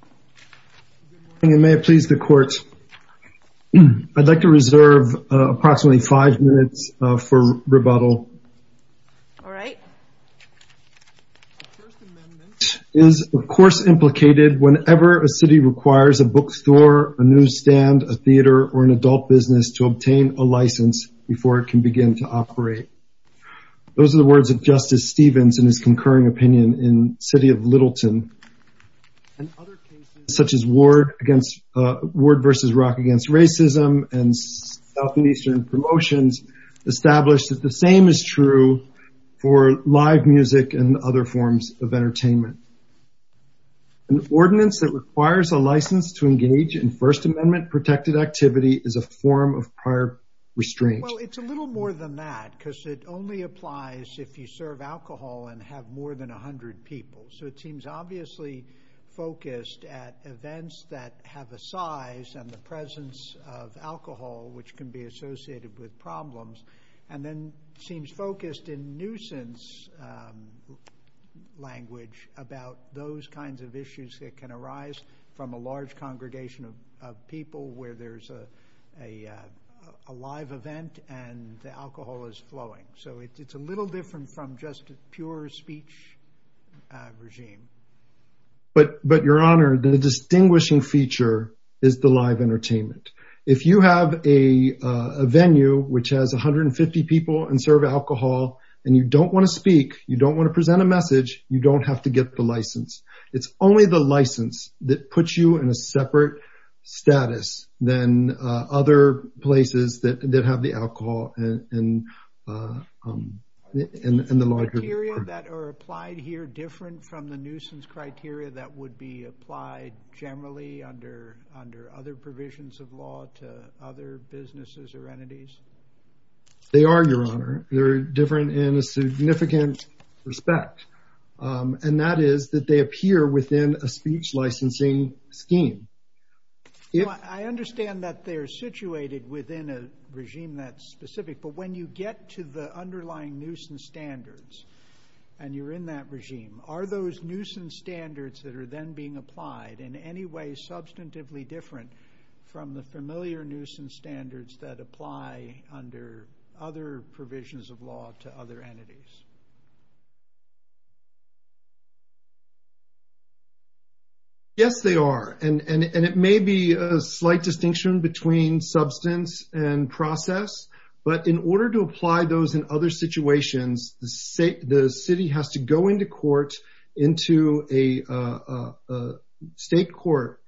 Good morning, and may it please the Court, I'd like to reserve approximately five minutes for rebuttal. All right. The First Amendment is, of course, implicated whenever a city requires a bookstore, a newsstand, a theater, or an adult business to obtain a license before it can begin to operate. Those are the words of Justice Stevens in his concurring opinion in City of Littleton. And other cases, such as Ward v. Rock Against Racism and Southeastern Promotions, established that the same is true for live music and other forms of entertainment. An ordinance that requires a license to engage in First Amendment-protected activity is a form of prior restraint. Well, it's a little more than that, because it only applies if you serve alcohol and have more than 100 people. So it seems obviously focused at events that have a size and the presence of alcohol, which can be associated with problems, and then seems focused in nuisance language about those kinds of issues that can arise from a large congregation of people where there's a live event and the alcohol is flowing. So it's a little different from just a pure speech regime. But, Your Honor, the distinguishing feature is the live entertainment. If you have a venue which has 150 people and serve alcohol, and you don't want to speak, you don't want to present a message, you don't have to get the license. It's only the license that puts you in a separate status than other places that have the alcohol in the larger department. Are the rules that are applied here different from the nuisance criteria that would be applied generally under other provisions of law to other businesses or entities? They are, Your Honor. They're different in a significant respect. And that is that they appear within a speech licensing scheme. I understand that they're situated within a regime that's specific, but when you get to the underlying nuisance standards and you're in that regime, are those nuisance standards that are then being applied in any way substantively different from the familiar nuisance standards that apply under other provisions of law to other entities? Yes, they are. And it may be a slight distinction between substance and process. But in order to apply those in other situations, the city has to go into court, into a state court,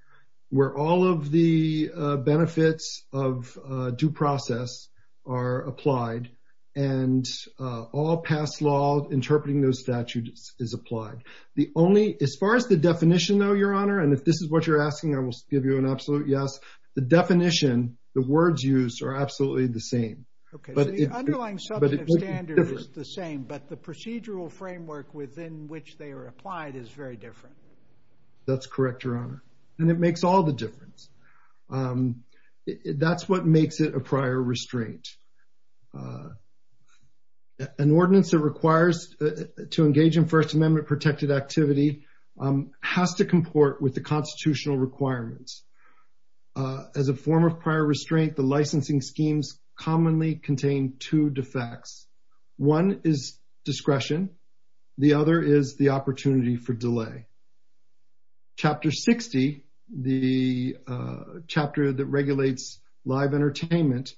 where all of the benefits of due process are applied. And all past law interpreting those statutes is applied. As far as the definition, though, Your Honor, and if this is what you're asking, I will give you an absolute yes. The definition, the words used are absolutely the same. Okay, so the underlying substantive standard is the same, but the procedural framework within which they are applied is very different. That's correct, Your Honor. And it makes all the difference. That's what makes it a prior restraint. An ordinance that requires to engage in First Amendment-protected activity has to comport with the constitutional requirements. As a form of prior restraint, the licensing schemes commonly contain two defects. One is discretion. Chapter 60, the chapter that regulates live entertainment,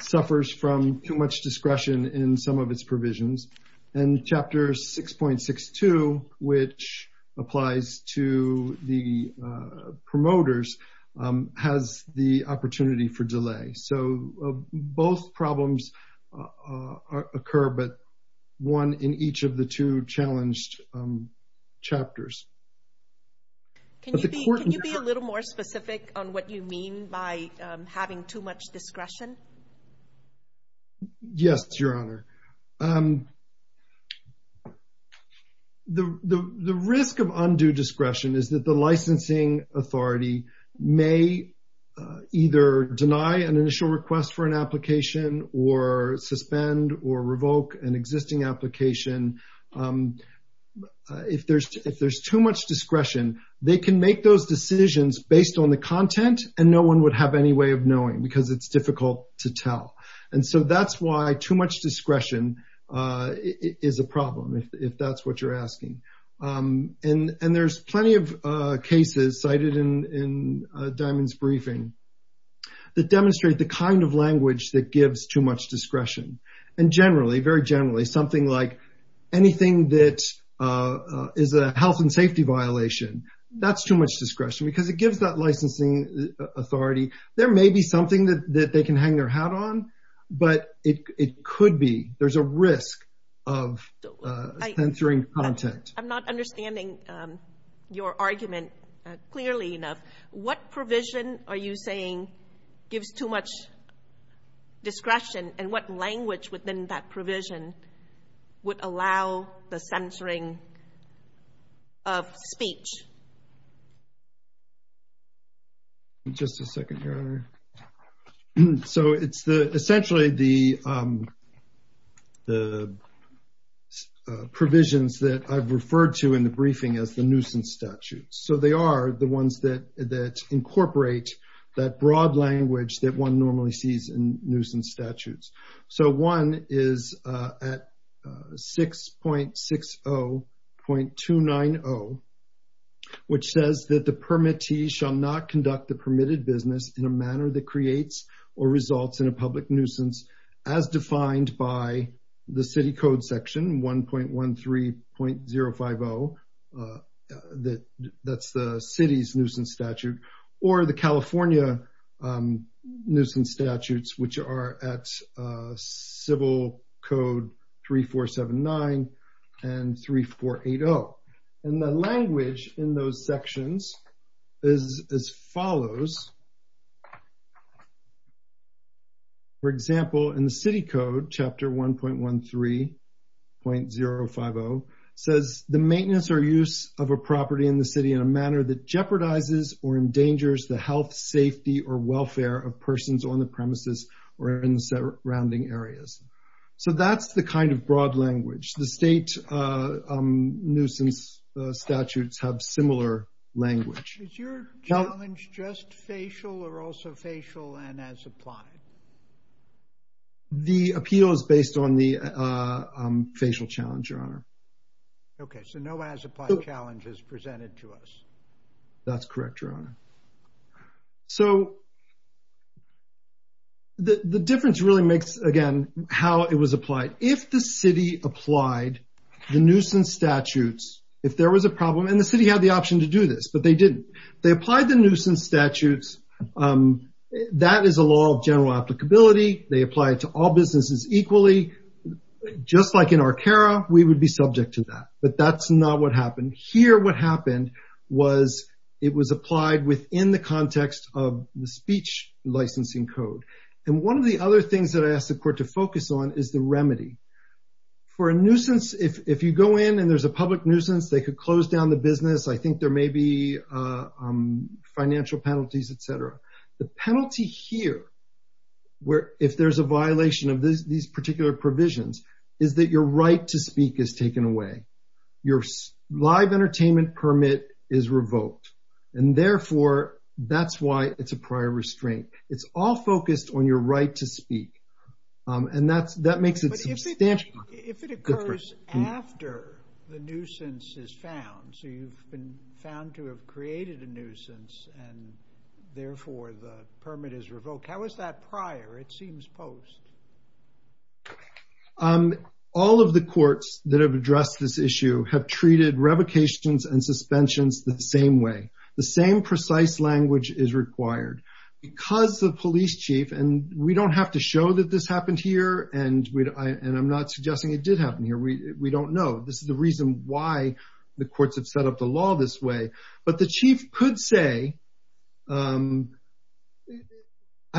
suffers from too much discretion in some of its provisions. And Chapter 6.62, which applies to the promoters, has the opportunity for delay. So both problems occur, but one in each of the two challenged chapters. Can you be a little more specific on what you mean by having too much discretion? Yes, Your Honor. The risk of undue discretion is that the licensing authority may either deny an initial request for an application or suspend or revoke an existing application. If there's too much discretion, they can make those decisions based on the content, and no one would have any way of knowing because it's difficult to tell. And so that's why too much discretion is a problem, if that's what you're asking. And there's plenty of cases cited in Diamond's briefing that demonstrate the kind of language that gives too much discretion. And generally, very generally, something like anything that is a health and safety violation, that's too much discretion because it gives that licensing authority. There may be something that they can hang their hat on, but it could be. There's a risk of censoring content. I'm not understanding your argument clearly enough. What provision are you saying gives too much discretion, and what language within that provision would allow the censoring of speech? Just a second, Your Honor. So it's essentially the provisions that I've referred to in the briefing as the nuisance statutes. So they are the ones that incorporate that broad language that one normally sees in nuisance statutes. So one is at 6.60.290, which says that the permittee shall not conduct the permitted business in a manner that creates or results in a public nuisance, as defined by the city code section 1.13.050. That's the city's nuisance statute, or the California nuisance statutes, which are at civil code 3479 and 3480. And the language in those sections is as follows. For example, in the city code, chapter 1.13.050, says the maintenance or use of a property in the city in a manner that jeopardizes or endangers the health, safety, or welfare of persons on the premises or in the surrounding areas. So that's the kind of broad language. The state nuisance statutes have similar language. Is your challenge just facial or also facial and as applied? The appeal is based on the facial challenge, Your Honor. Okay, so no as applied challenge is presented to us. That's correct, Your Honor. So the difference really makes, again, how it was applied. If the city applied the nuisance statutes, if there was a problem, and the city had the option to do this, but they didn't. They applied the nuisance statutes. That is a law of general applicability. They apply it to all businesses equally. Just like in Arcara, we would be subject to that. But that's not what happened. Here what happened was it was applied within the context of the speech licensing code. And one of the other things that I asked the court to focus on is the remedy. For a nuisance, if you go in and there's a public nuisance, they could close down the business. I think there may be financial penalties, et cetera. The penalty here, if there's a violation of these particular provisions, is that your right to speak is taken away. Your live entertainment permit is revoked. And, therefore, that's why it's a prior restraint. It's all focused on your right to speak. And that makes a substantial difference. But if it occurs after the nuisance is found, so you've been found to have created a nuisance, and, therefore, the permit is revoked, how is that prior? It seems post. All of the courts that have addressed this issue have treated revocations and suspensions the same way. The same precise language is required. Because the police chief, and we don't have to show that this happened here, and I'm not suggesting it did happen here. We don't know. This is the reason why the courts have set up the law this way. But the chief could say, I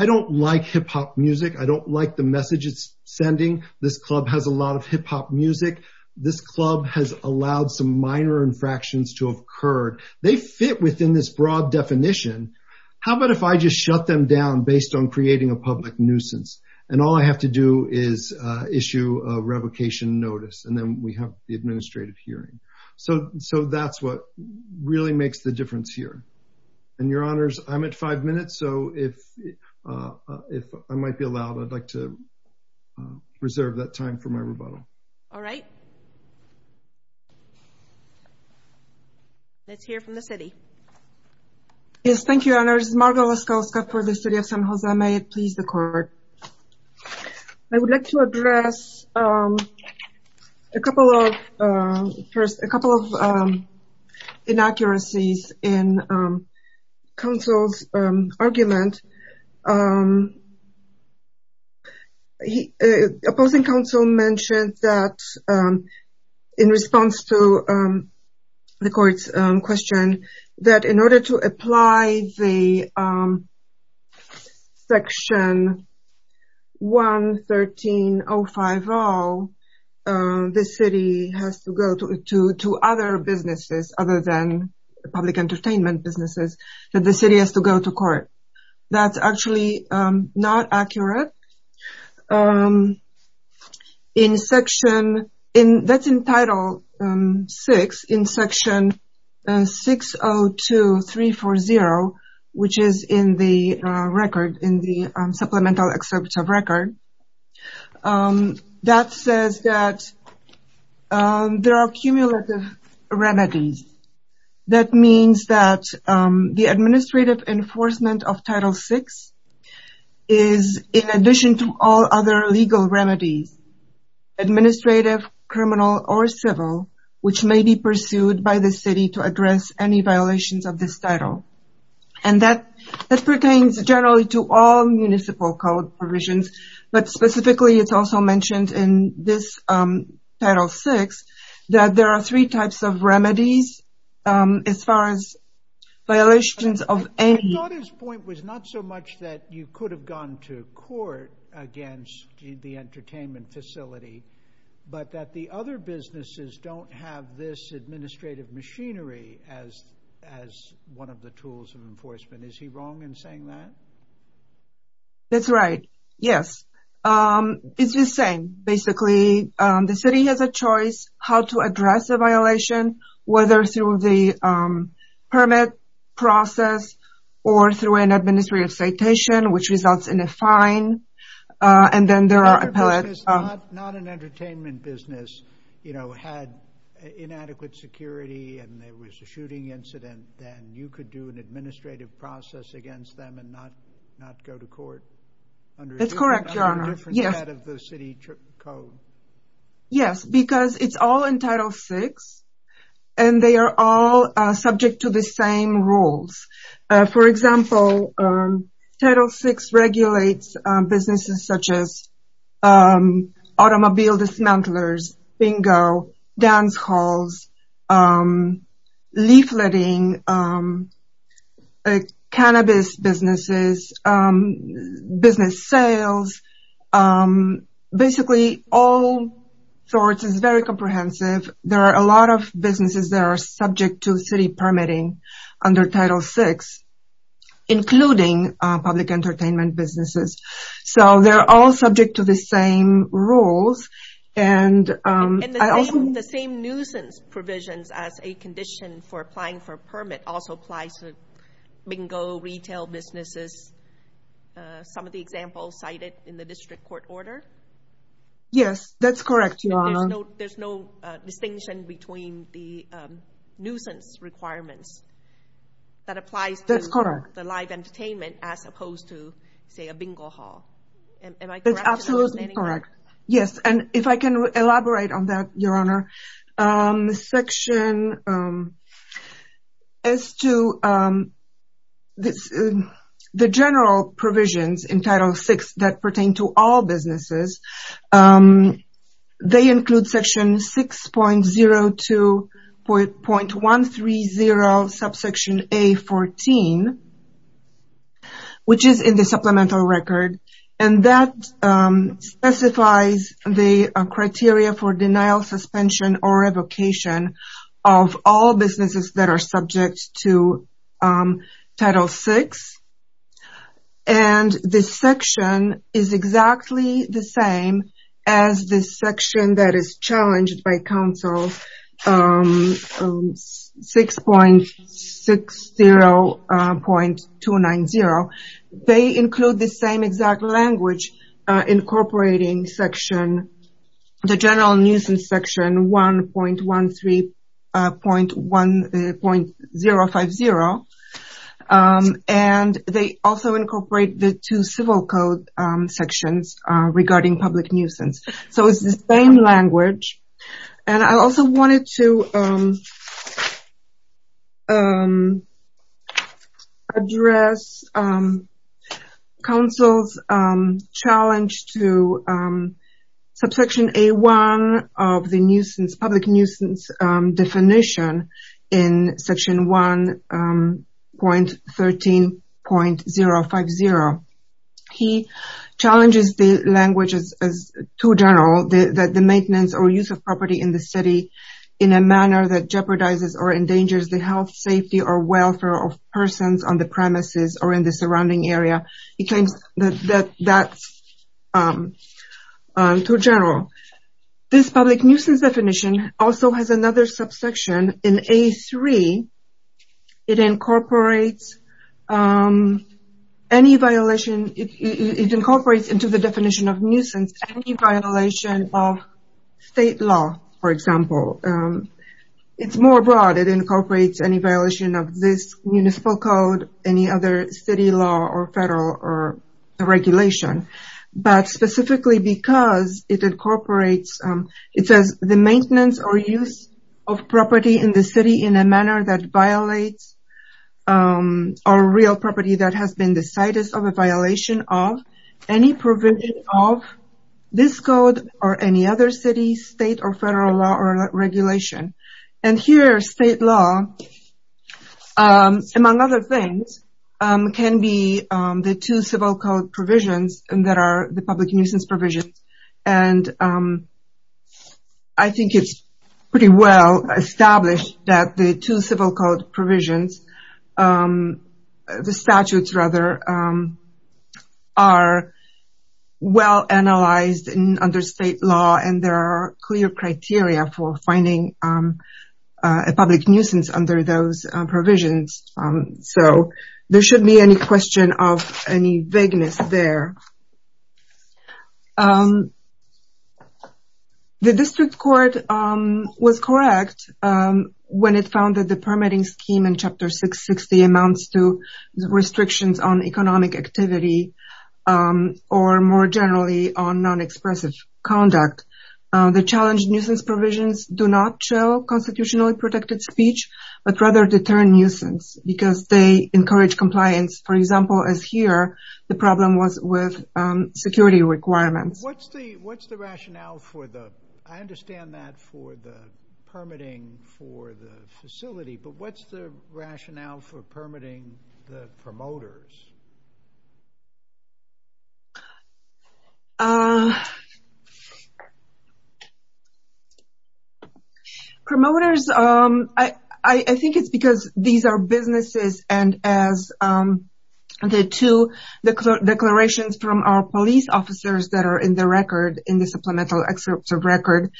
don't like hip-hop music. I don't like the message it's sending. This club has a lot of hip-hop music. This club has allowed some minor infractions to have occurred. They fit within this broad definition. How about if I just shut them down based on creating a public nuisance? And all I have to do is issue a revocation notice, and then we have the administrative hearing. So that's what really makes the difference here. And, Your Honors, I'm at five minutes, so if I might be allowed, I'd like to reserve that time for my rebuttal. All right. Let's hear from the city. Yes, thank you, Your Honors. Margo Laskowska for the city of San Jose. May it please the court. I would like to address a couple of inaccuracies in counsel's argument. Opposing counsel mentioned that in response to the court's question, that in order to apply the Section 113.05.0, the city has to go to other businesses other than public entertainment businesses, that the city has to go to court. That's actually not accurate. That's in Title VI in Section 602340, which is in the supplemental excerpt of record. That says that there are cumulative remedies. That means that the administrative enforcement of Title VI is, in addition to all other legal remedies, administrative, criminal, or civil, which may be pursued by the city to address any violations of this title. That pertains generally to all municipal code provisions, but specifically it's also mentioned in this Title VI, that there are three types of remedies as far as violations of any. I thought his point was not so much that you could have gone to court against the entertainment facility, but that the other businesses don't have this administrative machinery as one of the tools of enforcement. Is he wrong in saying that? That's right, yes. It's the same, basically. The city has a choice how to address a violation, whether through the permit process or through an administrative citation, which results in a fine. Not an entertainment business had inadequate security and there was a shooting incident, then you could do an administrative process against them and not go to court. That's correct, Your Honor. Under a different set of the city code. Yes, because it's all in Title VI, and they are all subject to the same rules. For example, Title VI regulates businesses such as automobile dismantlers, bingo, dance halls, leafleting, cannabis businesses, business sales, basically all sorts. It's very comprehensive. There are a lot of businesses that are subject to city permitting under Title VI, including public entertainment businesses. So they're all subject to the same rules. And the same nuisance provisions as a condition for applying for a permit also applies to bingo, retail businesses, some of the examples cited in the district court order? Yes, that's correct, Your Honor. There's no distinction between the nuisance requirements that applies to the live entertainment as opposed to, say, a bingo hall. Am I correct? That's absolutely correct. Yes, and if I can elaborate on that, Your Honor. Section as to the general provisions in Title VI that pertain to all businesses, they include Section 6.02.130, subsection A14, which is in the supplemental record, and that specifies the criteria for denial, suspension, or revocation of all businesses that are subject to Title VI. And this section is exactly the same as the section that is challenged by Council 6.60.290. They include the same exact language incorporating the general nuisance section 1.13.050, and they also incorporate the two civil code sections regarding public nuisance. So it's the same language. And I also wanted to address Council's challenge to subsection A1 of the public nuisance definition in Section 1.13.050. He challenges the language as too general, that the maintenance or use of property in the city in a manner that jeopardizes or endangers the health, safety, or welfare of persons on the premises or in the surrounding area. He claims that that's too general. This public nuisance definition also has another subsection. In A3, it incorporates into the definition of nuisance any violation of state law, for example. It's more broad. It incorporates any violation of this municipal code, any other city law or federal regulation. But specifically because it incorporates, it says the maintenance or use of property in the city in a manner that violates or real property that has been the site of a violation of any provision of this code or any other city, state, or federal law or regulation. And here, state law, among other things, can be the two civil code provisions that are the public nuisance provisions. And I think it's pretty well established that the two civil code provisions, the statutes rather, are well analyzed under state law. And there are clear criteria for finding a public nuisance under those provisions. So there shouldn't be any question of any vagueness there. The district court was correct when it found that the permitting scheme in Chapter 660 amounts to restrictions on economic activity or more generally on non-expressive conduct. The challenge nuisance provisions do not show constitutionally protected speech, but rather deter nuisance because they encourage compliance. For example, as here, the problem was with security requirements. So what's the rationale for the, I understand that for the permitting for the facility, but what's the rationale for permitting the promoters? Promoters, I think it's because these are businesses and as the two declarations from our police officers that are in the record, in the supplemental excerpts of record,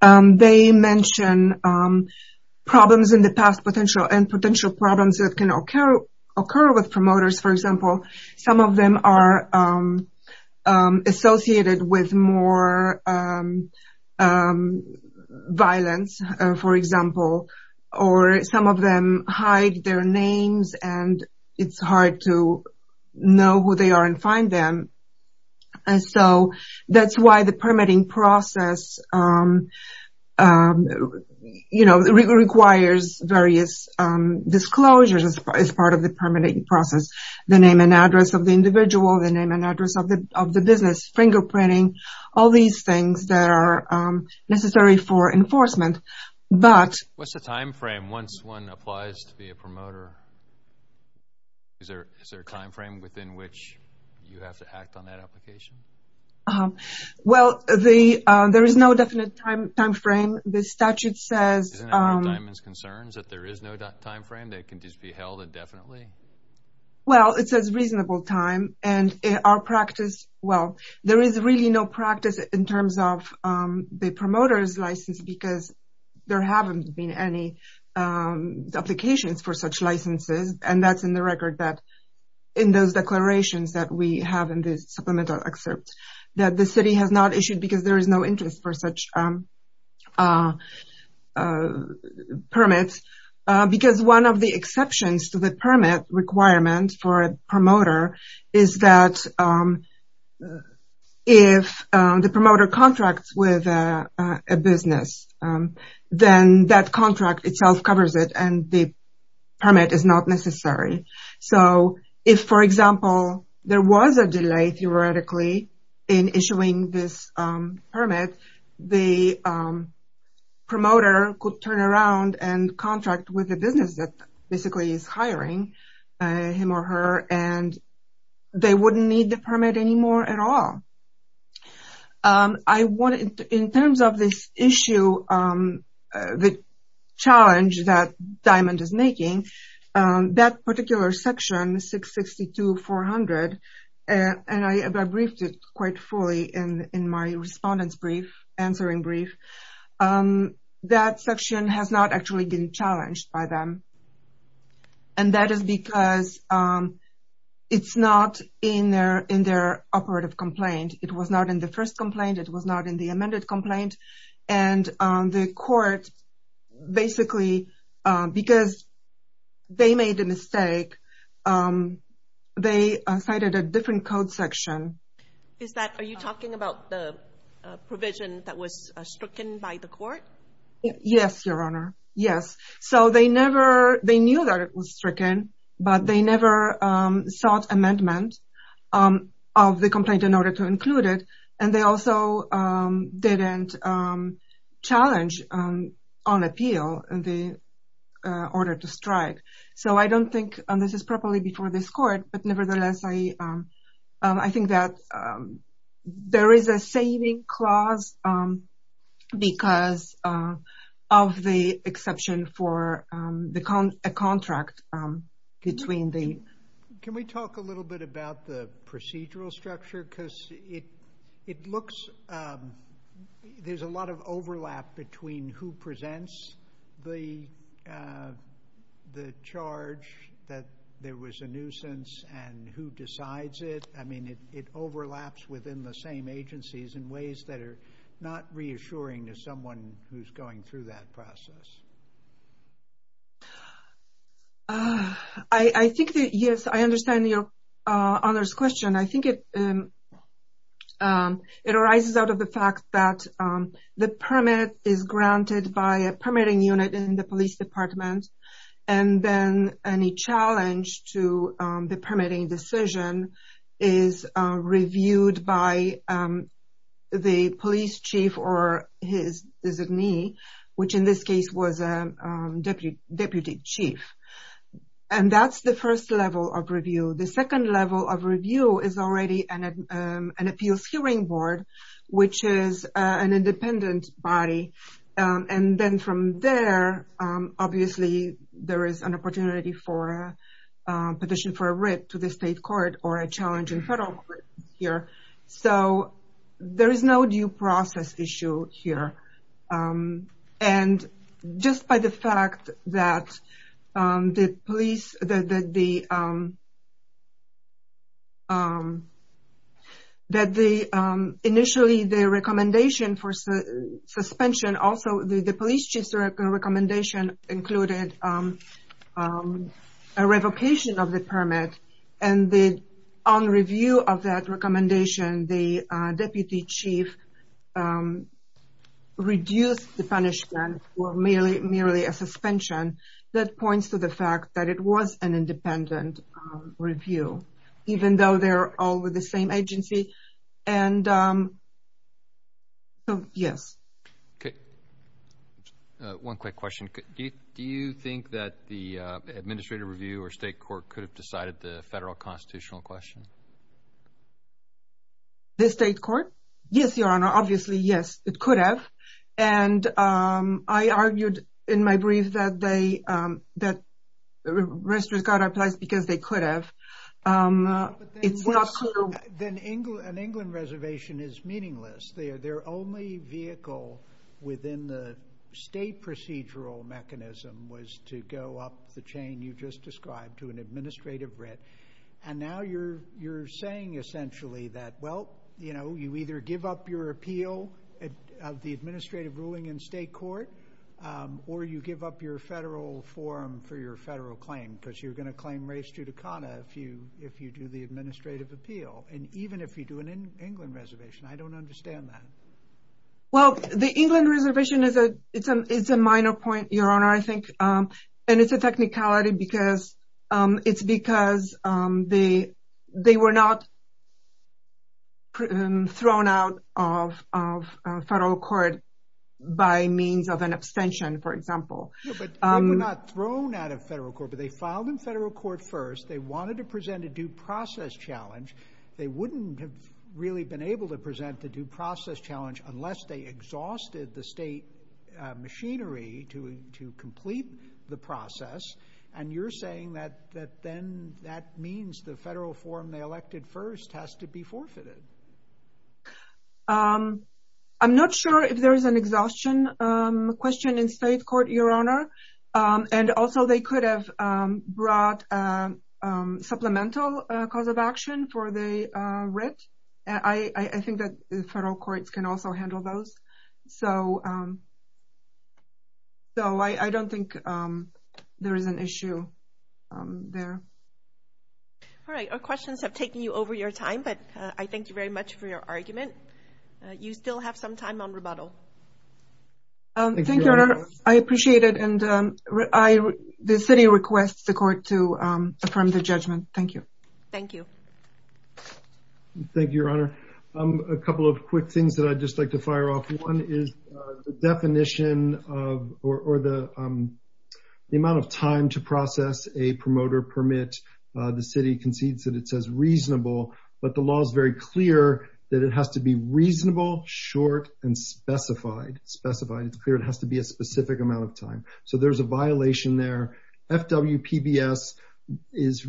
they mention problems in the past and potential problems that can occur with promoters. For example, some of them are associated with more violence, for example, or some of them hide their names and it's hard to know who they are and find them. So that's why the permitting process requires various disclosures as part of the permitting process. The name and address of the individual, the name and address of the business, fingerprinting, all these things that are necessary for enforcement. What's the time frame once one applies to be a promoter? Is there a time frame within which you have to act on that application? Well, there is no definite time frame. The statute says... Isn't that where Diamond's concerned, that there is no time frame? They can just be held indefinitely? Well, it says reasonable time and our practice, well, there is really no practice in terms of the promoter's license because there haven't been any applications for such licenses. And that's in the record that in those declarations that we have in this supplemental excerpt that the city has not issued because there is no interest for such permits. Because one of the exceptions to the permit requirement for a promoter is that if the promoter contracts with a business, then that contract itself covers it and the permit is not necessary. So if, for example, there was a delay theoretically in issuing this permit, the promoter could turn around and contract with the business that basically is hiring him or her and they wouldn't need the permit anymore at all. In terms of this issue, the challenge that Diamond is making, that particular section 662-400, and I briefed it quite fully in my respondents answering brief, that section has not actually been challenged by them. And that is because it's not in their operative complaint. It was not in the first complaint. It was not in the amended complaint. And the court basically, because they made a mistake, they cited a different code section. Are you talking about the provision that was stricken by the court? Yes, Your Honor. Yes. So they never, they knew that it was stricken, but they never sought amendment of the complaint in order to include it. And they also didn't challenge on appeal the order to strike. So I don't think this is properly before this court, but nevertheless, I think that there is a saving clause because of the exception for a contract between the... charge that there was a nuisance and who decides it. I mean, it overlaps within the same agencies in ways that are not reassuring to someone who's going through that process. I think that, yes, I understand Your Honor's question. I think it arises out of the fact that the permit is granted by a permitting unit in the police department. And then any challenge to the permitting decision is reviewed by the police chief or his designee, which in this case was a deputy chief. And that's the first level of review. The second level of review is already an appeals hearing board, which is an independent body. And then from there, obviously, there is an opportunity for a petition for a writ to the state court or a challenge in federal court here. So there is no due process issue here. And just by the fact that the police... that the... initially the recommendation for suspension, also the police chief's recommendation included a revocation of the permit. And on review of that recommendation, the deputy chief reduced the punishment for merely a suspension that points to the fact that it was an independent review, even though they're all with the same agency. And so, yes. Okay. One quick question. Do you think that the administrative review or state court could have decided the federal constitutional question? The state court? Yes, Your Honor. Obviously, yes, it could have. And I argued in my brief that they... that registrars got a place because they could have. But then an England reservation is meaningless. Their only vehicle within the state procedural mechanism was to go up the chain you just described to an administrative writ. And now you're saying essentially that, well, you know, you either give up your appeal of the administrative ruling in state court, or you give up your federal forum for your federal claim because you're going to claim race judicata if you do the administrative appeal. And even if you do an England reservation, I don't understand that. Well, the England reservation is a minor point, Your Honor, I think. And it's a technicality because it's because they were not thrown out of federal court by means of an abstention, for example. Yeah, but they were not thrown out of federal court, but they filed in federal court first. They wanted to present a due process challenge. They wouldn't have really been able to present the due process challenge unless they exhausted the state machinery to complete the process. And you're saying that then that means the federal forum they elected first has to be forfeited. I'm not sure if there is an exhaustion question in state court, Your Honor. And also, they could have brought supplemental cause of action for the writ. I think that the federal courts can also handle those. So I don't think there is an issue there. All right. Our questions have taken you over your time, but I thank you very much for your argument. You still have some time on rebuttal. Thank you, Your Honor. I appreciate it. And the city requests the court to affirm the judgment. Thank you. Thank you. Thank you, Your Honor. A couple of quick things that I'd just like to fire off. One is the definition of or the amount of time to process a promoter permit. The city concedes that it says reasonable, but the law is very clear that it has to be reasonable, short, and specified. It's clear it has to be a specific amount of time. So there's a violation there. FWPBS is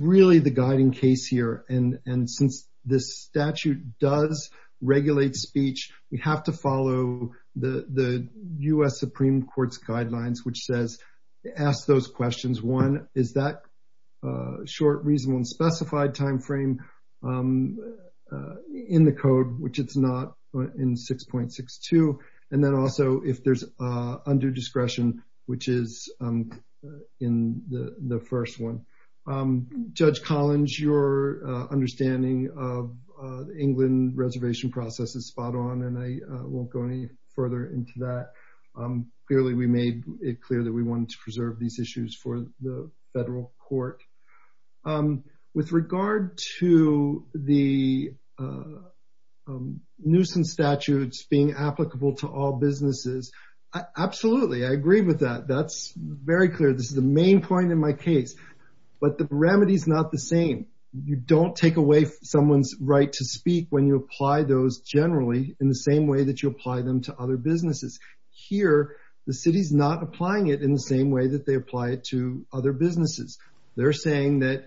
really the guiding case here. And since this statute does regulate speech, we have to follow the U.S. Supreme Court's guidelines, which says ask those questions. One is that short, reasonable, and specified time frame in the code, which it's not in 6.62. And then also if there's undue discretion, which is in the first one. Judge Collins, your understanding of England reservation process is spot on, and I won't go any further into that. Clearly, we made it clear that we wanted to preserve these issues for the federal court. With regard to the nuisance statutes being applicable to all businesses, absolutely. I agree with that. That's very clear. This is the main point in my case. But the remedy is not the same. You don't take away someone's right to speak when you apply those generally in the same way that you apply them to other businesses. Here, the city's not applying it in the same way that they apply it to other businesses. They're saying that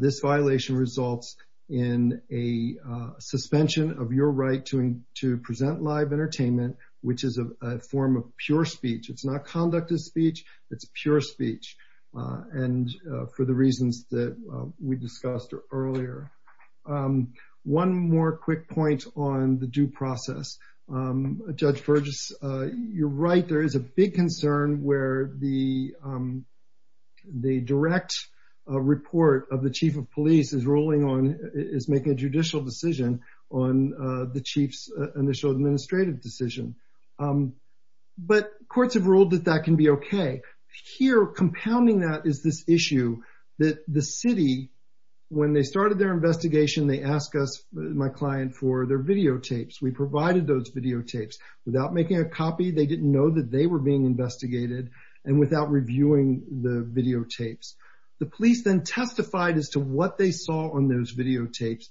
this violation results in a suspension of your right to present live entertainment, which is a form of pure speech. It's not conductive speech. It's pure speech. And for the reasons that we discussed earlier. One more quick point on the due process. Judge Burgess, you're right. There is a big concern where the direct report of the chief of police is ruling on, is making a judicial decision on the chief's initial administrative decision. But courts have ruled that that can be okay. Here, compounding that is this issue that the city, when they started their investigation, they asked us, my client, for their videotapes. We provided those videotapes without making a copy. They didn't know that they were being investigated and without reviewing the videotapes. The police then testified as to what they saw on those videotapes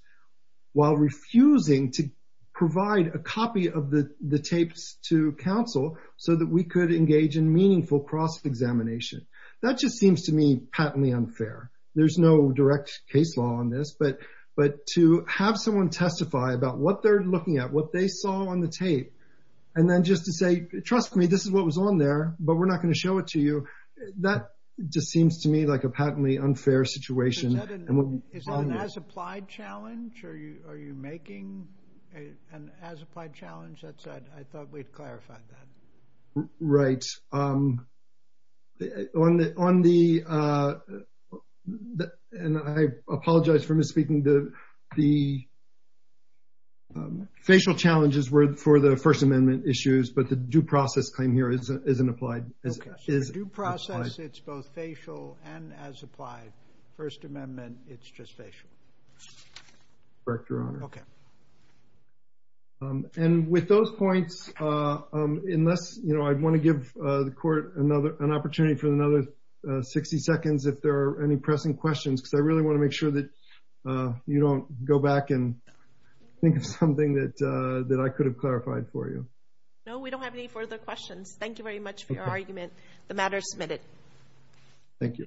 while refusing to provide a copy of the tapes to counsel so that we could engage in meaningful cross-examination. That just seems to me patently unfair. There's no direct case law on this, but to have someone testify about what they're looking at, what they saw on the tape, and then just to say, trust me, this is what was on there, but we're not going to show it to you. That just seems to me like a patently unfair situation. Is that an as-applied challenge? Are you making an as-applied challenge? I thought we clarified that. Right. I apologize for misspeaking. The facial challenges were for the First Amendment issues, but the due process claim here isn't applied. Due process, it's both facial and as-applied. First Amendment, it's just facial. Correct, Your Honor. Okay. And with those points, I want to give the court an opportunity for another 60 seconds if there are any pressing questions, because I really want to make sure that you don't go back and think of something that I could have clarified for you. No, we don't have any further questions. Thank you very much for your argument. The matter is submitted. Thank you.